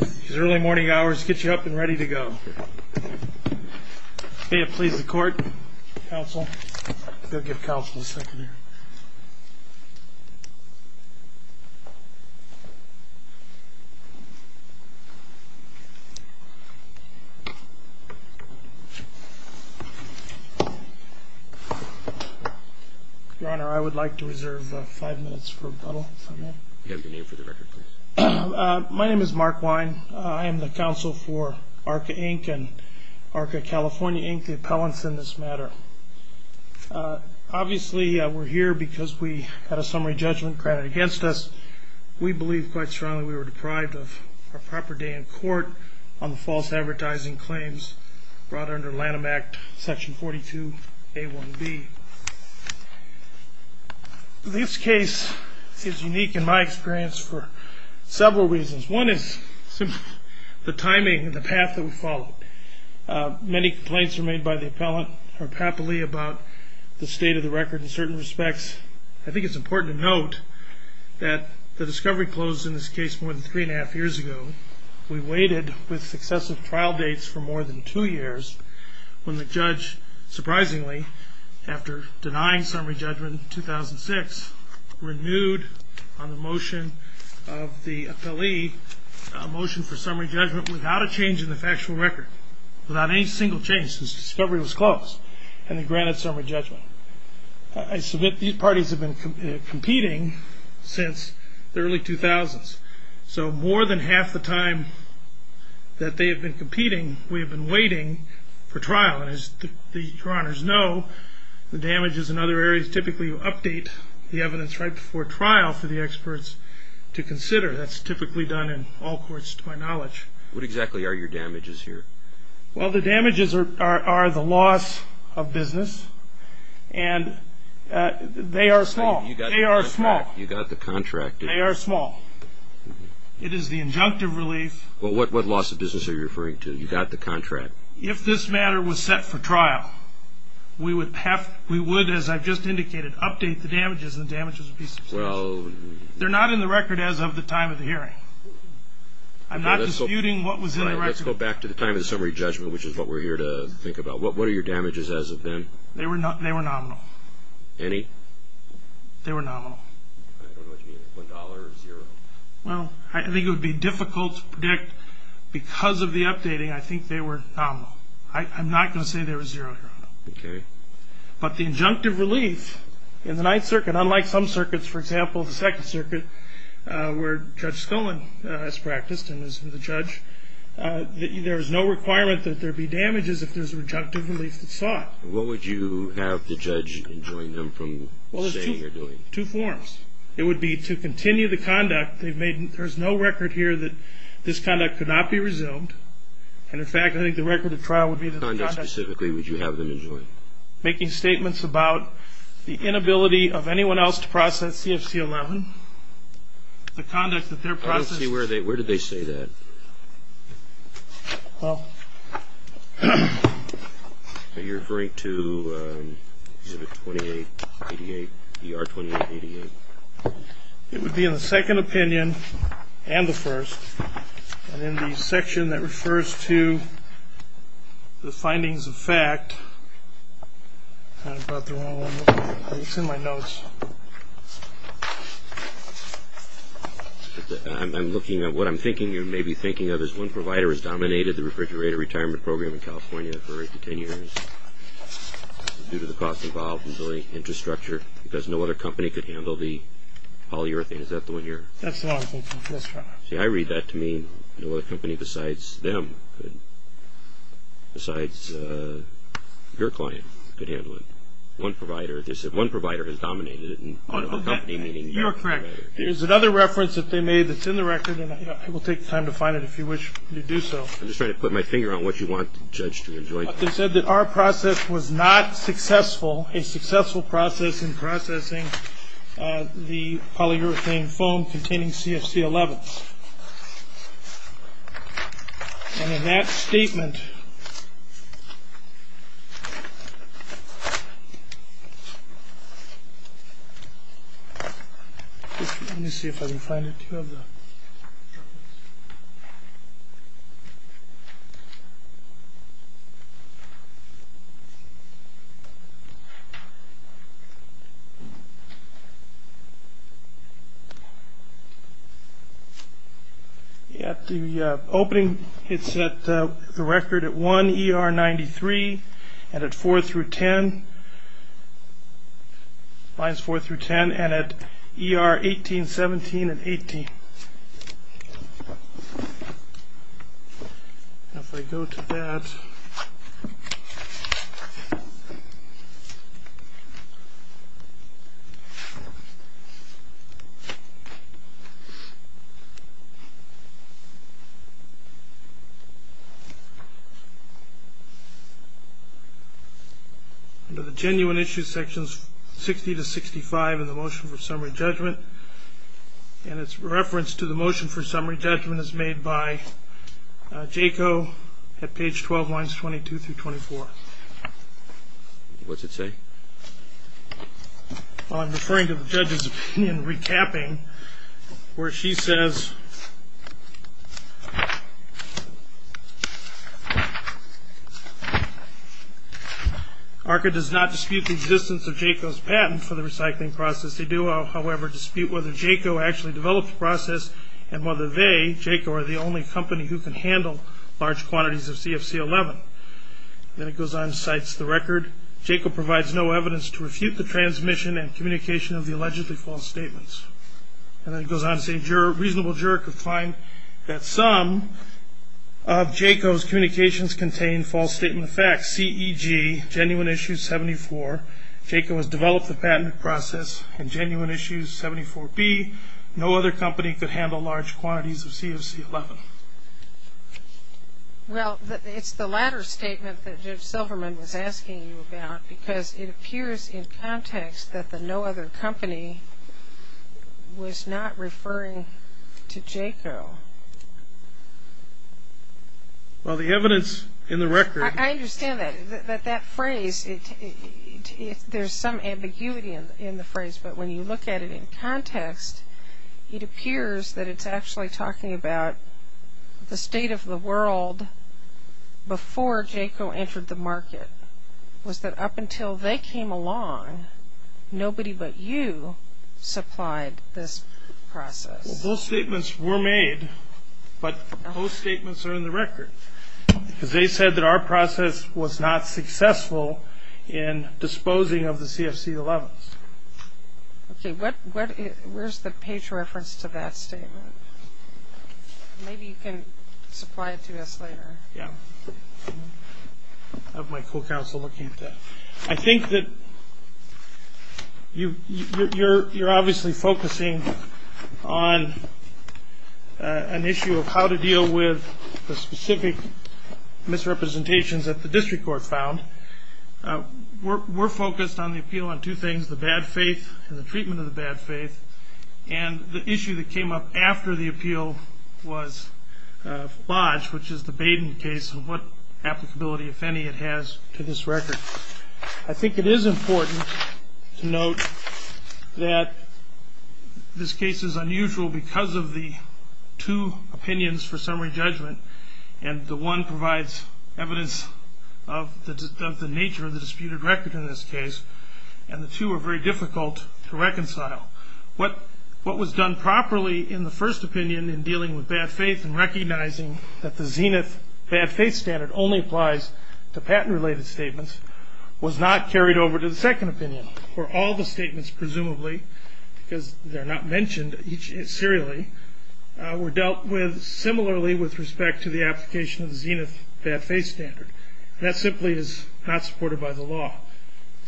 These early morning hours get you up and ready to go. May it please the court, counsel. Go give counsel a second here. Your Honor, I would like to reserve five minutes for rebuttal. You have your name for the record, please. My name is Mark Wine. I am the counsel for ARCA, Inc. and ARCA California, Inc., the appellants in this matter. Obviously, we're here because we had a summary judgment granted against us. We believe quite strongly we were deprived of a proper day in court on the false advertising claims brought under Lanham Act, Section 42A1B. This case is unique in my experience for several reasons. One is simply the timing and the path that we followed. Many complaints were made by the appellant or Papali about the state of the record in certain respects. I think it's important to note that the discovery closed in this case more than three and a half years ago. We waited with successive trial dates for more than two years when the judge, surprisingly, after denying summary judgment in 2006, renewed on the motion of the appellee a motion for summary judgment without a change in the factual record, without any single change since discovery was closed, and then granted summary judgment. I submit these parties have been competing since the early 2000s. So more than half the time that they have been competing, we have been waiting for trial. As the coroners know, the damages in other areas typically update the evidence right before trial for the experts to consider. That's typically done in all courts to my knowledge. What exactly are your damages here? Well, the damages are the loss of business, and they are small. You got the contract. They are small. It is the injunctive relief. Well, what loss of business are you referring to? You got the contract. If this matter was set for trial, we would, as I've just indicated, update the damages, and the damages would be substantial. They're not in the record as of the time of the hearing. I'm not disputing what was in the record. Let's go back to the time of the summary judgment, which is what we're here to think about. What are your damages as of then? They were nominal. Any? They were nominal. I don't know what you mean. One dollar or zero? Well, I think it would be difficult to predict. Because of the updating, I think they were nominal. I'm not going to say they were zero here. Okay. But the injunctive relief in the Ninth Circuit, unlike some circuits, for example, the Second Circuit, where Judge Scullin has practiced and was the judge, there is no requirement that there be damages if there's an injunctive relief that's sought. What would you have the judge enjoin them from saying or doing? Two forms. It would be to continue the conduct. There's no record here that this conduct could not be resumed. And, in fact, I think the record of trial would be that the conduct... What conduct specifically would you have them enjoin? Making statements about the inability of anyone else to process CFC 11, the conduct that they're processing... I don't see where they say that. Well... Are you referring to exhibit 2888, ER 2888? It would be in the second opinion and the first. And in the section that refers to the findings of fact... I brought the wrong one. It's in my notes. I'm looking at what I'm thinking, or maybe thinking of, It says one provider has dominated the refrigerator retirement program in California for eight to ten years due to the cost involved in building infrastructure because no other company could handle the polyurethane. Is that the one you're... That's the one I'm thinking of. See, I read that to mean no other company besides them could... besides your client could handle it. One provider... They said one provider has dominated it. You are correct. There's another reference that they made that's in the record, and I will take the time to find it if you wish to do so. I'm just trying to put my finger on what you want, Judge Stringer. They said that our process was not successful, a successful process in processing the polyurethane foam containing CFC-11. And in that statement... Let me see if I can find it. At the opening, it's at the record at 1 ER 93, and at 4 through 10, lines 4 through 10, and at ER 18, 17, and 18. Now, if I go to that... Under the genuine issue sections 60 to 65 in the motion for summary judgment, and its reference to the motion for summary judgment is made by JACO at page 12, lines 22 through 24. What's it say? I'm referring to the judge's opinion recapping where she says, ARCA does not dispute the existence of JACO's patent for the recycling process. They do, however, dispute whether JACO actually developed the process, and whether they, JACO, are the only company who can handle large quantities of CFC-11. Then it goes on and cites the record, JACO provides no evidence to refute the transmission and communication of the allegedly false statements. And then it goes on to say, a reasonable juror could find that some of JACO's communications contain false statement of facts, CEG, genuine issue 74. JACO has developed the patent process, and genuine issue 74B, no other company could handle large quantities of CFC-11. Well, it's the latter statement that Judge Silverman was asking you about, because it appears in context that the no other company was not referring to JACO. I understand that, that that phrase, there's some ambiguity in the phrase, but when you look at it in context, it appears that it's actually talking about the state of the world before JACO entered the market, was that up until they came along, nobody but you supplied this process. Well, those statements were made, but those statements are in the record, because they said that our process was not successful in disposing of the CFC-11s. Okay, where's the page reference to that statement? Maybe you can supply it to us later. Yeah, I have my full counsel looking at that. I think that you're obviously focusing on an issue of how to deal with the specific misrepresentations that the district court found. We're focused on the appeal on two things, the bad faith and the treatment of the bad faith, and the issue that came up after the appeal was lodged, which is the Baden case and what applicability, if any, it has to this record. I think it is important to note that this case is unusual because of the two opinions for summary judgment, and the one provides evidence of the nature of the disputed record in this case, and the two are very difficult to reconcile. What was done properly in the first opinion in dealing with bad faith and recognizing that the Zenith bad faith standard only applies to patent-related statements was not carried over to the second opinion, where all the statements presumably, because they're not mentioned serially, were dealt with similarly with respect to the application of the Zenith bad faith standard. That simply is not supported by the law.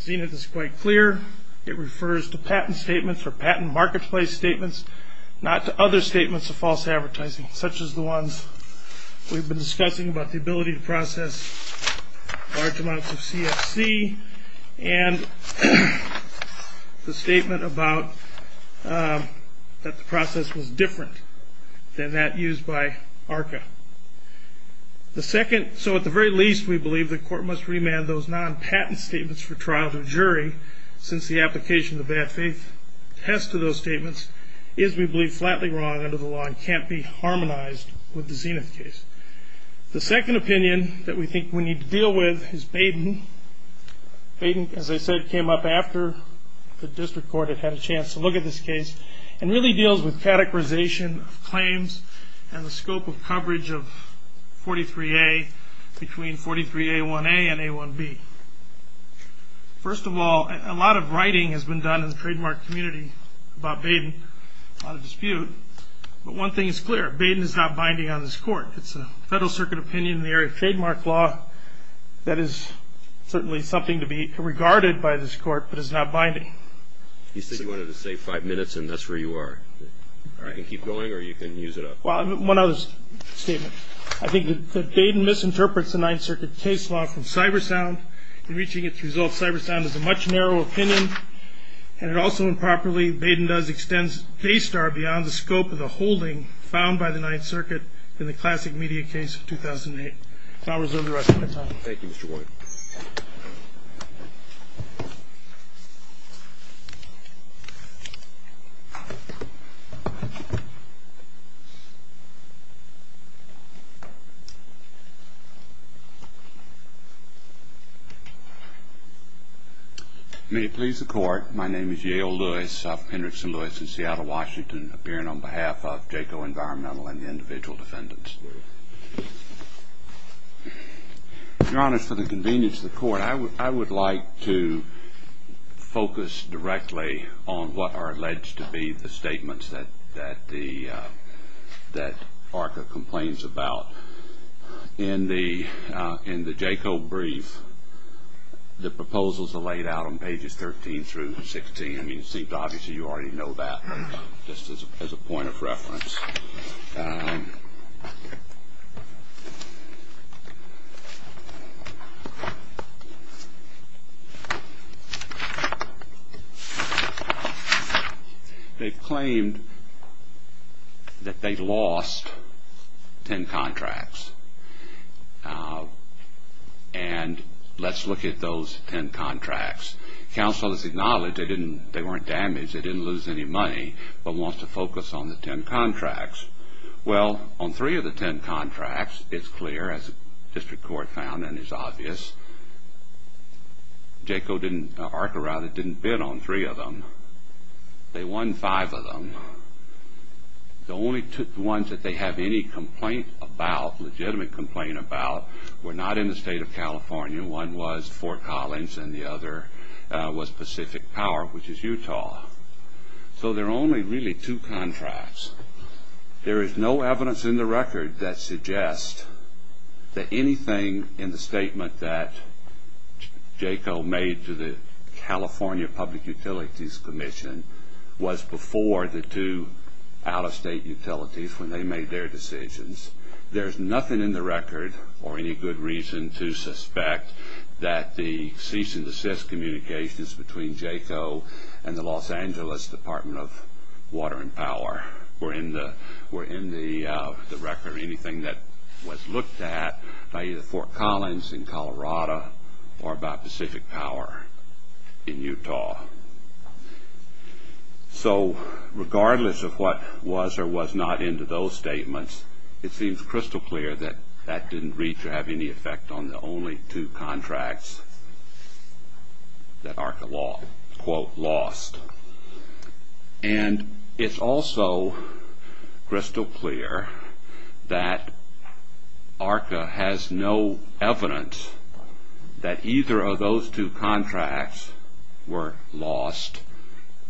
Zenith is quite clear. It refers to patent statements or patent marketplace statements, not to other statements of false advertising, such as the ones we've been discussing about the ability to process large amounts of CFC and the statement that the process was different than that used by ARCA. So at the very least, we believe the court must remand those non-patent statements for trial to a jury since the application of the bad faith test to those statements is, we believe, flatly wrong under the law and can't be harmonized with the Zenith case. The second opinion that we think we need to deal with is Baden. Baden, as I said, came up after the district court had had a chance to look at this case and really deals with categorization of claims and the scope of coverage of 43A between 43A1A and A1B. First of all, a lot of writing has been done in the trademark community about Baden, a lot of dispute, but one thing is clear. Baden is not binding on this court. It's a federal circuit opinion in the area of trademark law that is certainly something to be regarded by this court, but it's not binding. You said you wanted to save five minutes, and that's where you are. You can keep going or you can use it up. Well, one other statement. I think that Baden misinterprets the Ninth Circuit case law from Cybersound in reaching its results. Cybersound is a much narrower opinion, and also improperly, Baden does extend K-Star beyond the scope of the holding found by the Ninth Circuit in the classic media case of 2008. I'll reserve the rest of my time. Thank you, Mr. White. May it please the Court, my name is Yale Lewis. I'm Hendrickson Lewis in Seattle, Washington, appearing on behalf of Jayco Environmental and the individual defendants. Your Honors, for the convenience of the Court, I would like to focus directly on what are alleged to be the statements that ARCA complains about. In the Jayco brief, the proposals are laid out on pages 13 through 16. I mean, it seems obviously you already know that, just as a point of reference. They've claimed that they lost 10 contracts, and let's look at those 10 contracts. Counsel has acknowledged they weren't damaged, they didn't lose any money, but wants to focus on the 10 contracts. Well, on three of the 10 contracts, it's clear, as District Court found and is obvious, ARCA didn't bid on three of them. They won five of them. The only ones that they have any complaint about, legitimate complaint about, were not in the state of California. One was Fort Collins, and the other was Pacific Power, which is Utah. So there are only really two contracts. There is no evidence in the record that suggests that anything in the statement that Jayco made to the California Public Utilities Commission was before the two out-of-state utilities when they made their decisions. There's nothing in the record, or any good reason to suspect, that the cease-and-desist communications between Jayco and the Los Angeles Department of Water and Power were in the record, or anything that was looked at by either Fort Collins in Colorado or by Pacific Power in Utah. So regardless of what was or was not in those statements, it seems crystal clear that that didn't reach or have any effect on the only two contracts that ARCA, quote, lost. And it's also crystal clear that ARCA has no evidence that either of those two contracts were lost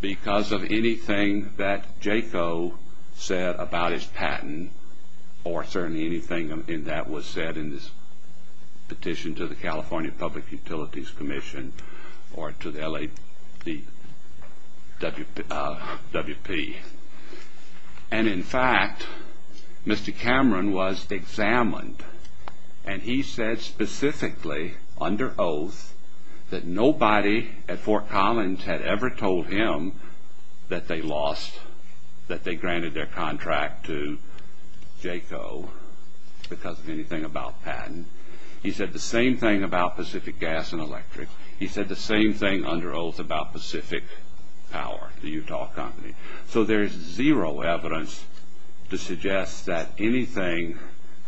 because of anything that Jayco said about his patent, or certainly anything that was said in his petition to the California Public Utilities Commission, or to the LAWP. And in fact, Mr. Cameron was examined, and he said specifically, under oath, that nobody at Fort Collins had ever told him that they lost, that they granted their contract to Jayco because of anything about patent. He said the same thing about Pacific Gas and Electric. He said the same thing under oath about Pacific Power, the Utah company. So there's zero evidence to suggest that anything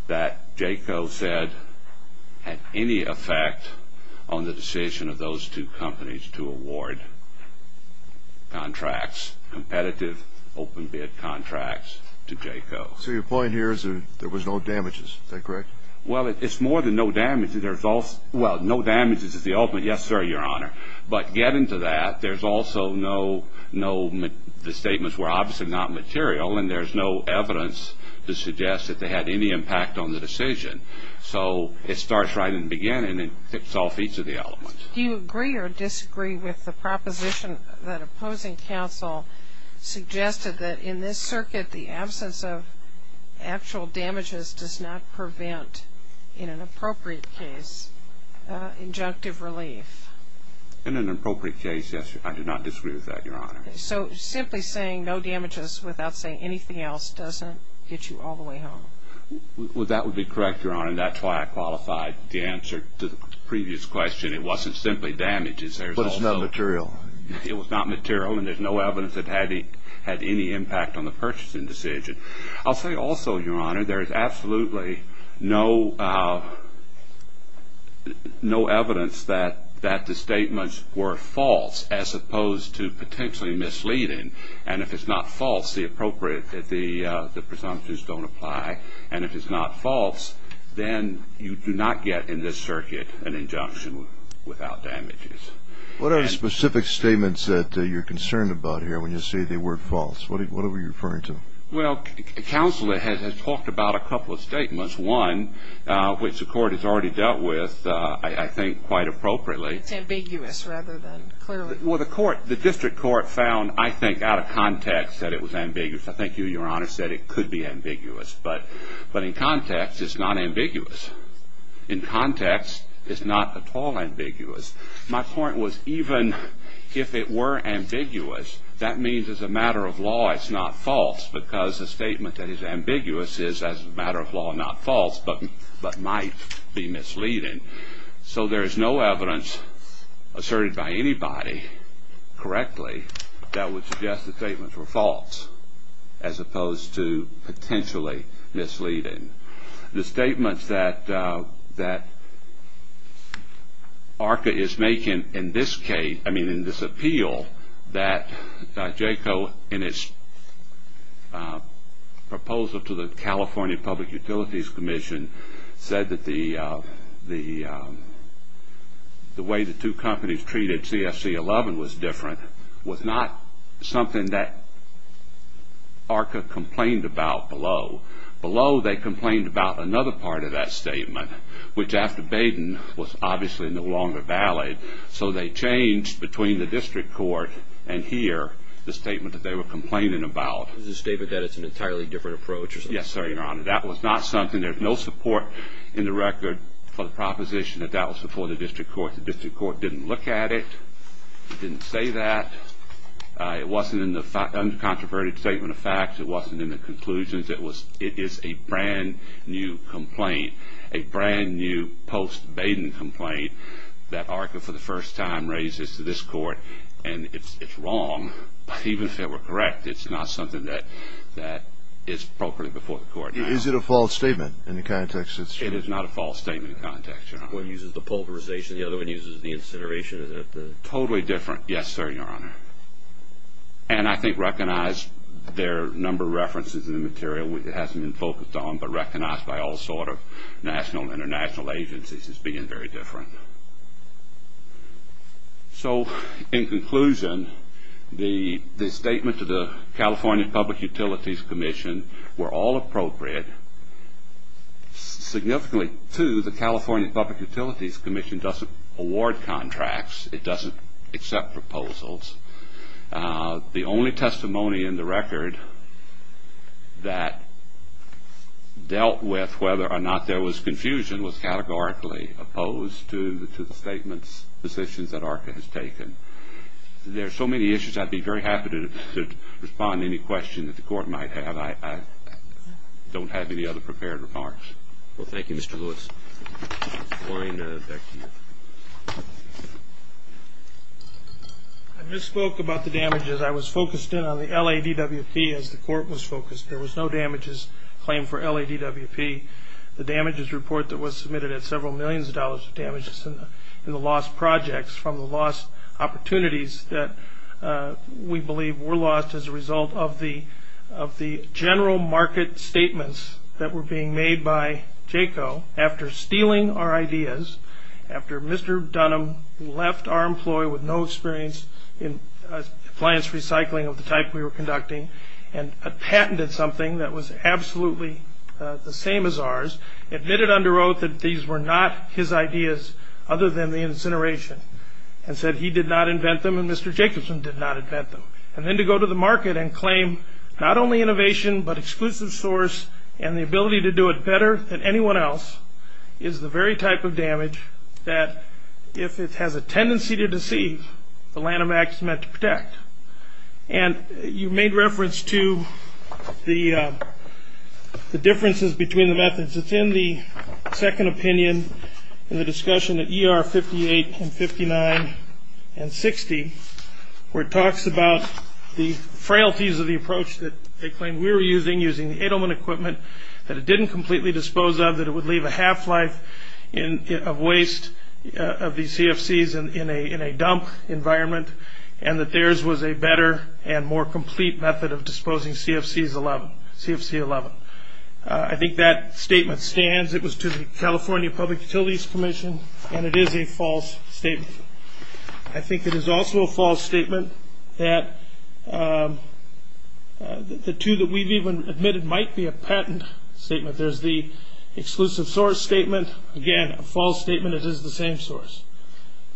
that Jayco said had any effect on the decision of those two companies to award contracts, competitive open bid contracts to Jayco. So your point here is that there was no damages. Is that correct? Well, it's more than no damages. There's also – well, no damages is the ultimate yes, sir, Your Honor. But getting to that, there's also no – the statements were obviously not material, and there's no evidence to suggest that they had any impact on the decision. So it starts right in the beginning and tips off each of the elements. Do you agree or disagree with the proposition that opposing counsel suggested that, in this circuit, the absence of actual damages does not prevent, in an appropriate case, injunctive relief? In an appropriate case, yes, I do not disagree with that, Your Honor. So simply saying no damages without saying anything else doesn't get you all the way home? Well, that would be correct, Your Honor, and that's why I qualified the answer to the previous question. It wasn't simply damages. But it's not material. It was not material, and there's no evidence it had any impact on the purchasing decision. I'll say also, Your Honor, there is absolutely no evidence that the statements were false as opposed to potentially misleading, and if it's not false, the presumptions don't apply, and if it's not false, then you do not get in this circuit an injunction without damages. What are the specific statements that you're concerned about here when you say the word false? What are we referring to? Well, counsel has talked about a couple of statements, one which the Court has already dealt with, I think, quite appropriately. It's ambiguous rather than clear. Well, the District Court found, I think, out of context that it was ambiguous. I think you, Your Honor, said it could be ambiguous. But in context, it's not ambiguous. In context, it's not at all ambiguous. My point was even if it were ambiguous, that means as a matter of law it's not false because a statement that is ambiguous is as a matter of law not false but might be misleading. So there is no evidence asserted by anybody correctly that would suggest the statements were false as opposed to potentially misleading. The statements that ARCA is making in this case, I mean in this appeal, that JACO in its proposal to the California Public Utilities Commission said that the way the two companies treated CFC 11 was different was not something that ARCA complained about below. Below, they complained about another part of that statement, which after Baden was obviously no longer valid. So they changed between the District Court and here the statement that they were complaining about. It was a statement that it's an entirely different approach or something? Yes, sir, Your Honor. That was not something. There's no support in the record for the proposition that that was before the District Court. The District Court didn't look at it. It didn't say that. It wasn't in the uncontroverted statement of facts. It wasn't in the conclusions. It is a brand-new complaint, a brand-new post-Baden complaint that ARCA for the first time raises to this Court, and it's wrong. Even if they were correct, it's not something that is appropriate before the Court now. Is it a false statement in the context that it's true? It is not a false statement in the context, Your Honor. One uses the pulverization. The other one uses the insinuation. Is it totally different? Yes, sir, Your Honor. And I think recognized there are a number of references in the material that it hasn't been focused on, but recognized by all sort of national and international agencies as being very different. So, in conclusion, the statement to the California Public Utilities Commission were all appropriate. Significantly, too, the California Public Utilities Commission doesn't award contracts. It doesn't accept proposals. The only testimony in the record that dealt with whether or not there was confusion was categorically opposed to the statement's decisions that ARCA has taken. There are so many issues I'd be very happy to respond to any question that the Court might have. I don't have any other prepared remarks. Well, thank you, Mr. Lewis. Lorraine, back to you. I misspoke about the damages. I was focused in on the LADWP as the Court was focused. There was no damages claimed for LADWP. The damages report that was submitted had several millions of dollars of damages in the lost projects from the lost opportunities that we believe were lost as a result of the general market statements that were being made by JACO after stealing our ideas, after Mr. Dunham left our employee with no experience in appliance recycling of the type we were conducting and patented something that was absolutely the same as ours, admitted under oath that these were not his ideas other than the incineration, and said he did not invent them and Mr. Jacobson did not invent them. And then to go to the market and claim not only innovation but exclusive source and the ability to do it better than anyone else is the very type of damage that if it has a tendency to deceive, the LADWP is meant to protect. And you made reference to the differences between the methods. It's in the second opinion in the discussion at ER 58 and 59 and 60 where it talks about the frailties of the approach that they claimed we were using, using Edelman equipment that it didn't completely dispose of, that it would leave a half-life of waste of these CFCs in a dump environment and that theirs was a better and more complete method of disposing CFC 11. I think that statement stands. It was to the California Public Utilities Commission, and it is a false statement. I think it is also a false statement that the two that we've even admitted might be a patent statement. There's the exclusive source statement. Again, a false statement it is the same source.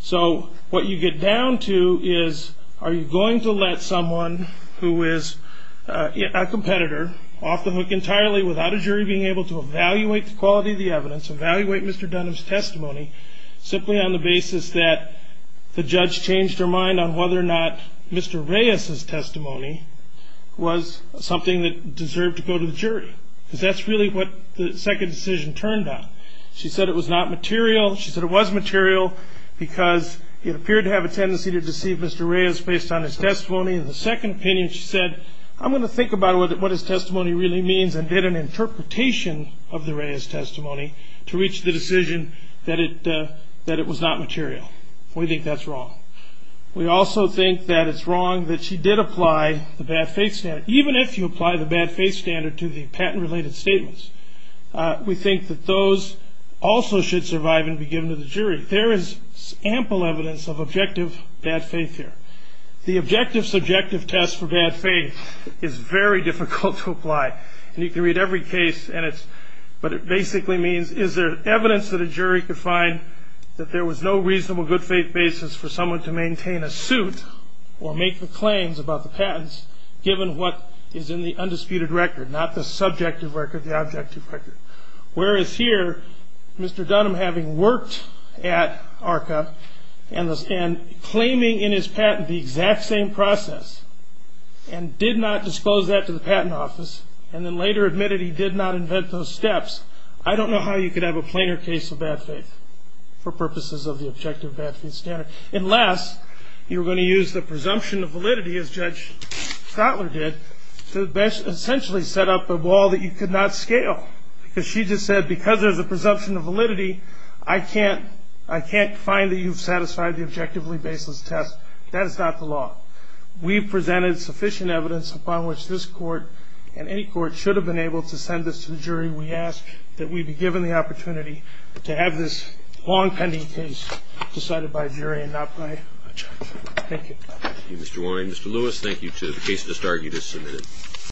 So what you get down to is are you going to let someone who is a competitor off the hook entirely without a jury being able to evaluate the quality of the evidence, evaluate Mr. Dunham's testimony simply on the basis that the judge changed her mind on whether or not Mr. Reyes's testimony was something that deserved to go to the jury because that's really what the second decision turned on. She said it was not material. Because it appeared to have a tendency to deceive Mr. Reyes based on his testimony. In the second opinion, she said, I'm going to think about what his testimony really means and did an interpretation of the Reyes testimony to reach the decision that it was not material. We think that's wrong. We also think that it's wrong that she did apply the bad faith standard. Even if you apply the bad faith standard to the patent-related statements, we think that those also should survive and be given to the jury. There is ample evidence of objective bad faith here. The objective subjective test for bad faith is very difficult to apply. And you can read every case, but it basically means is there evidence that a jury could find that there was no reasonable good faith basis for someone to maintain a suit or make the claims about the patents given what is in the undisputed record, not the subjective record, the objective record. Whereas here, Mr. Dunham having worked at ARCA and claiming in his patent the exact same process and did not dispose that to the patent office and then later admitted he did not invent those steps, I don't know how you could have a plainer case of bad faith for purposes of the objective bad faith standard. Unless you're going to use the presumption of validity as Judge Schottler did to essentially set up a wall that you could not scale. Because she just said because there's a presumption of validity, I can't find that you've satisfied the objectively baseless test. That is not the law. We've presented sufficient evidence upon which this court we ask that we be given the opportunity to have this long pending case decided by a jury and not by a judge. Thank you. Thank you, Mr. Warren. Mr. Lewis, thank you to the case just argued as submitted.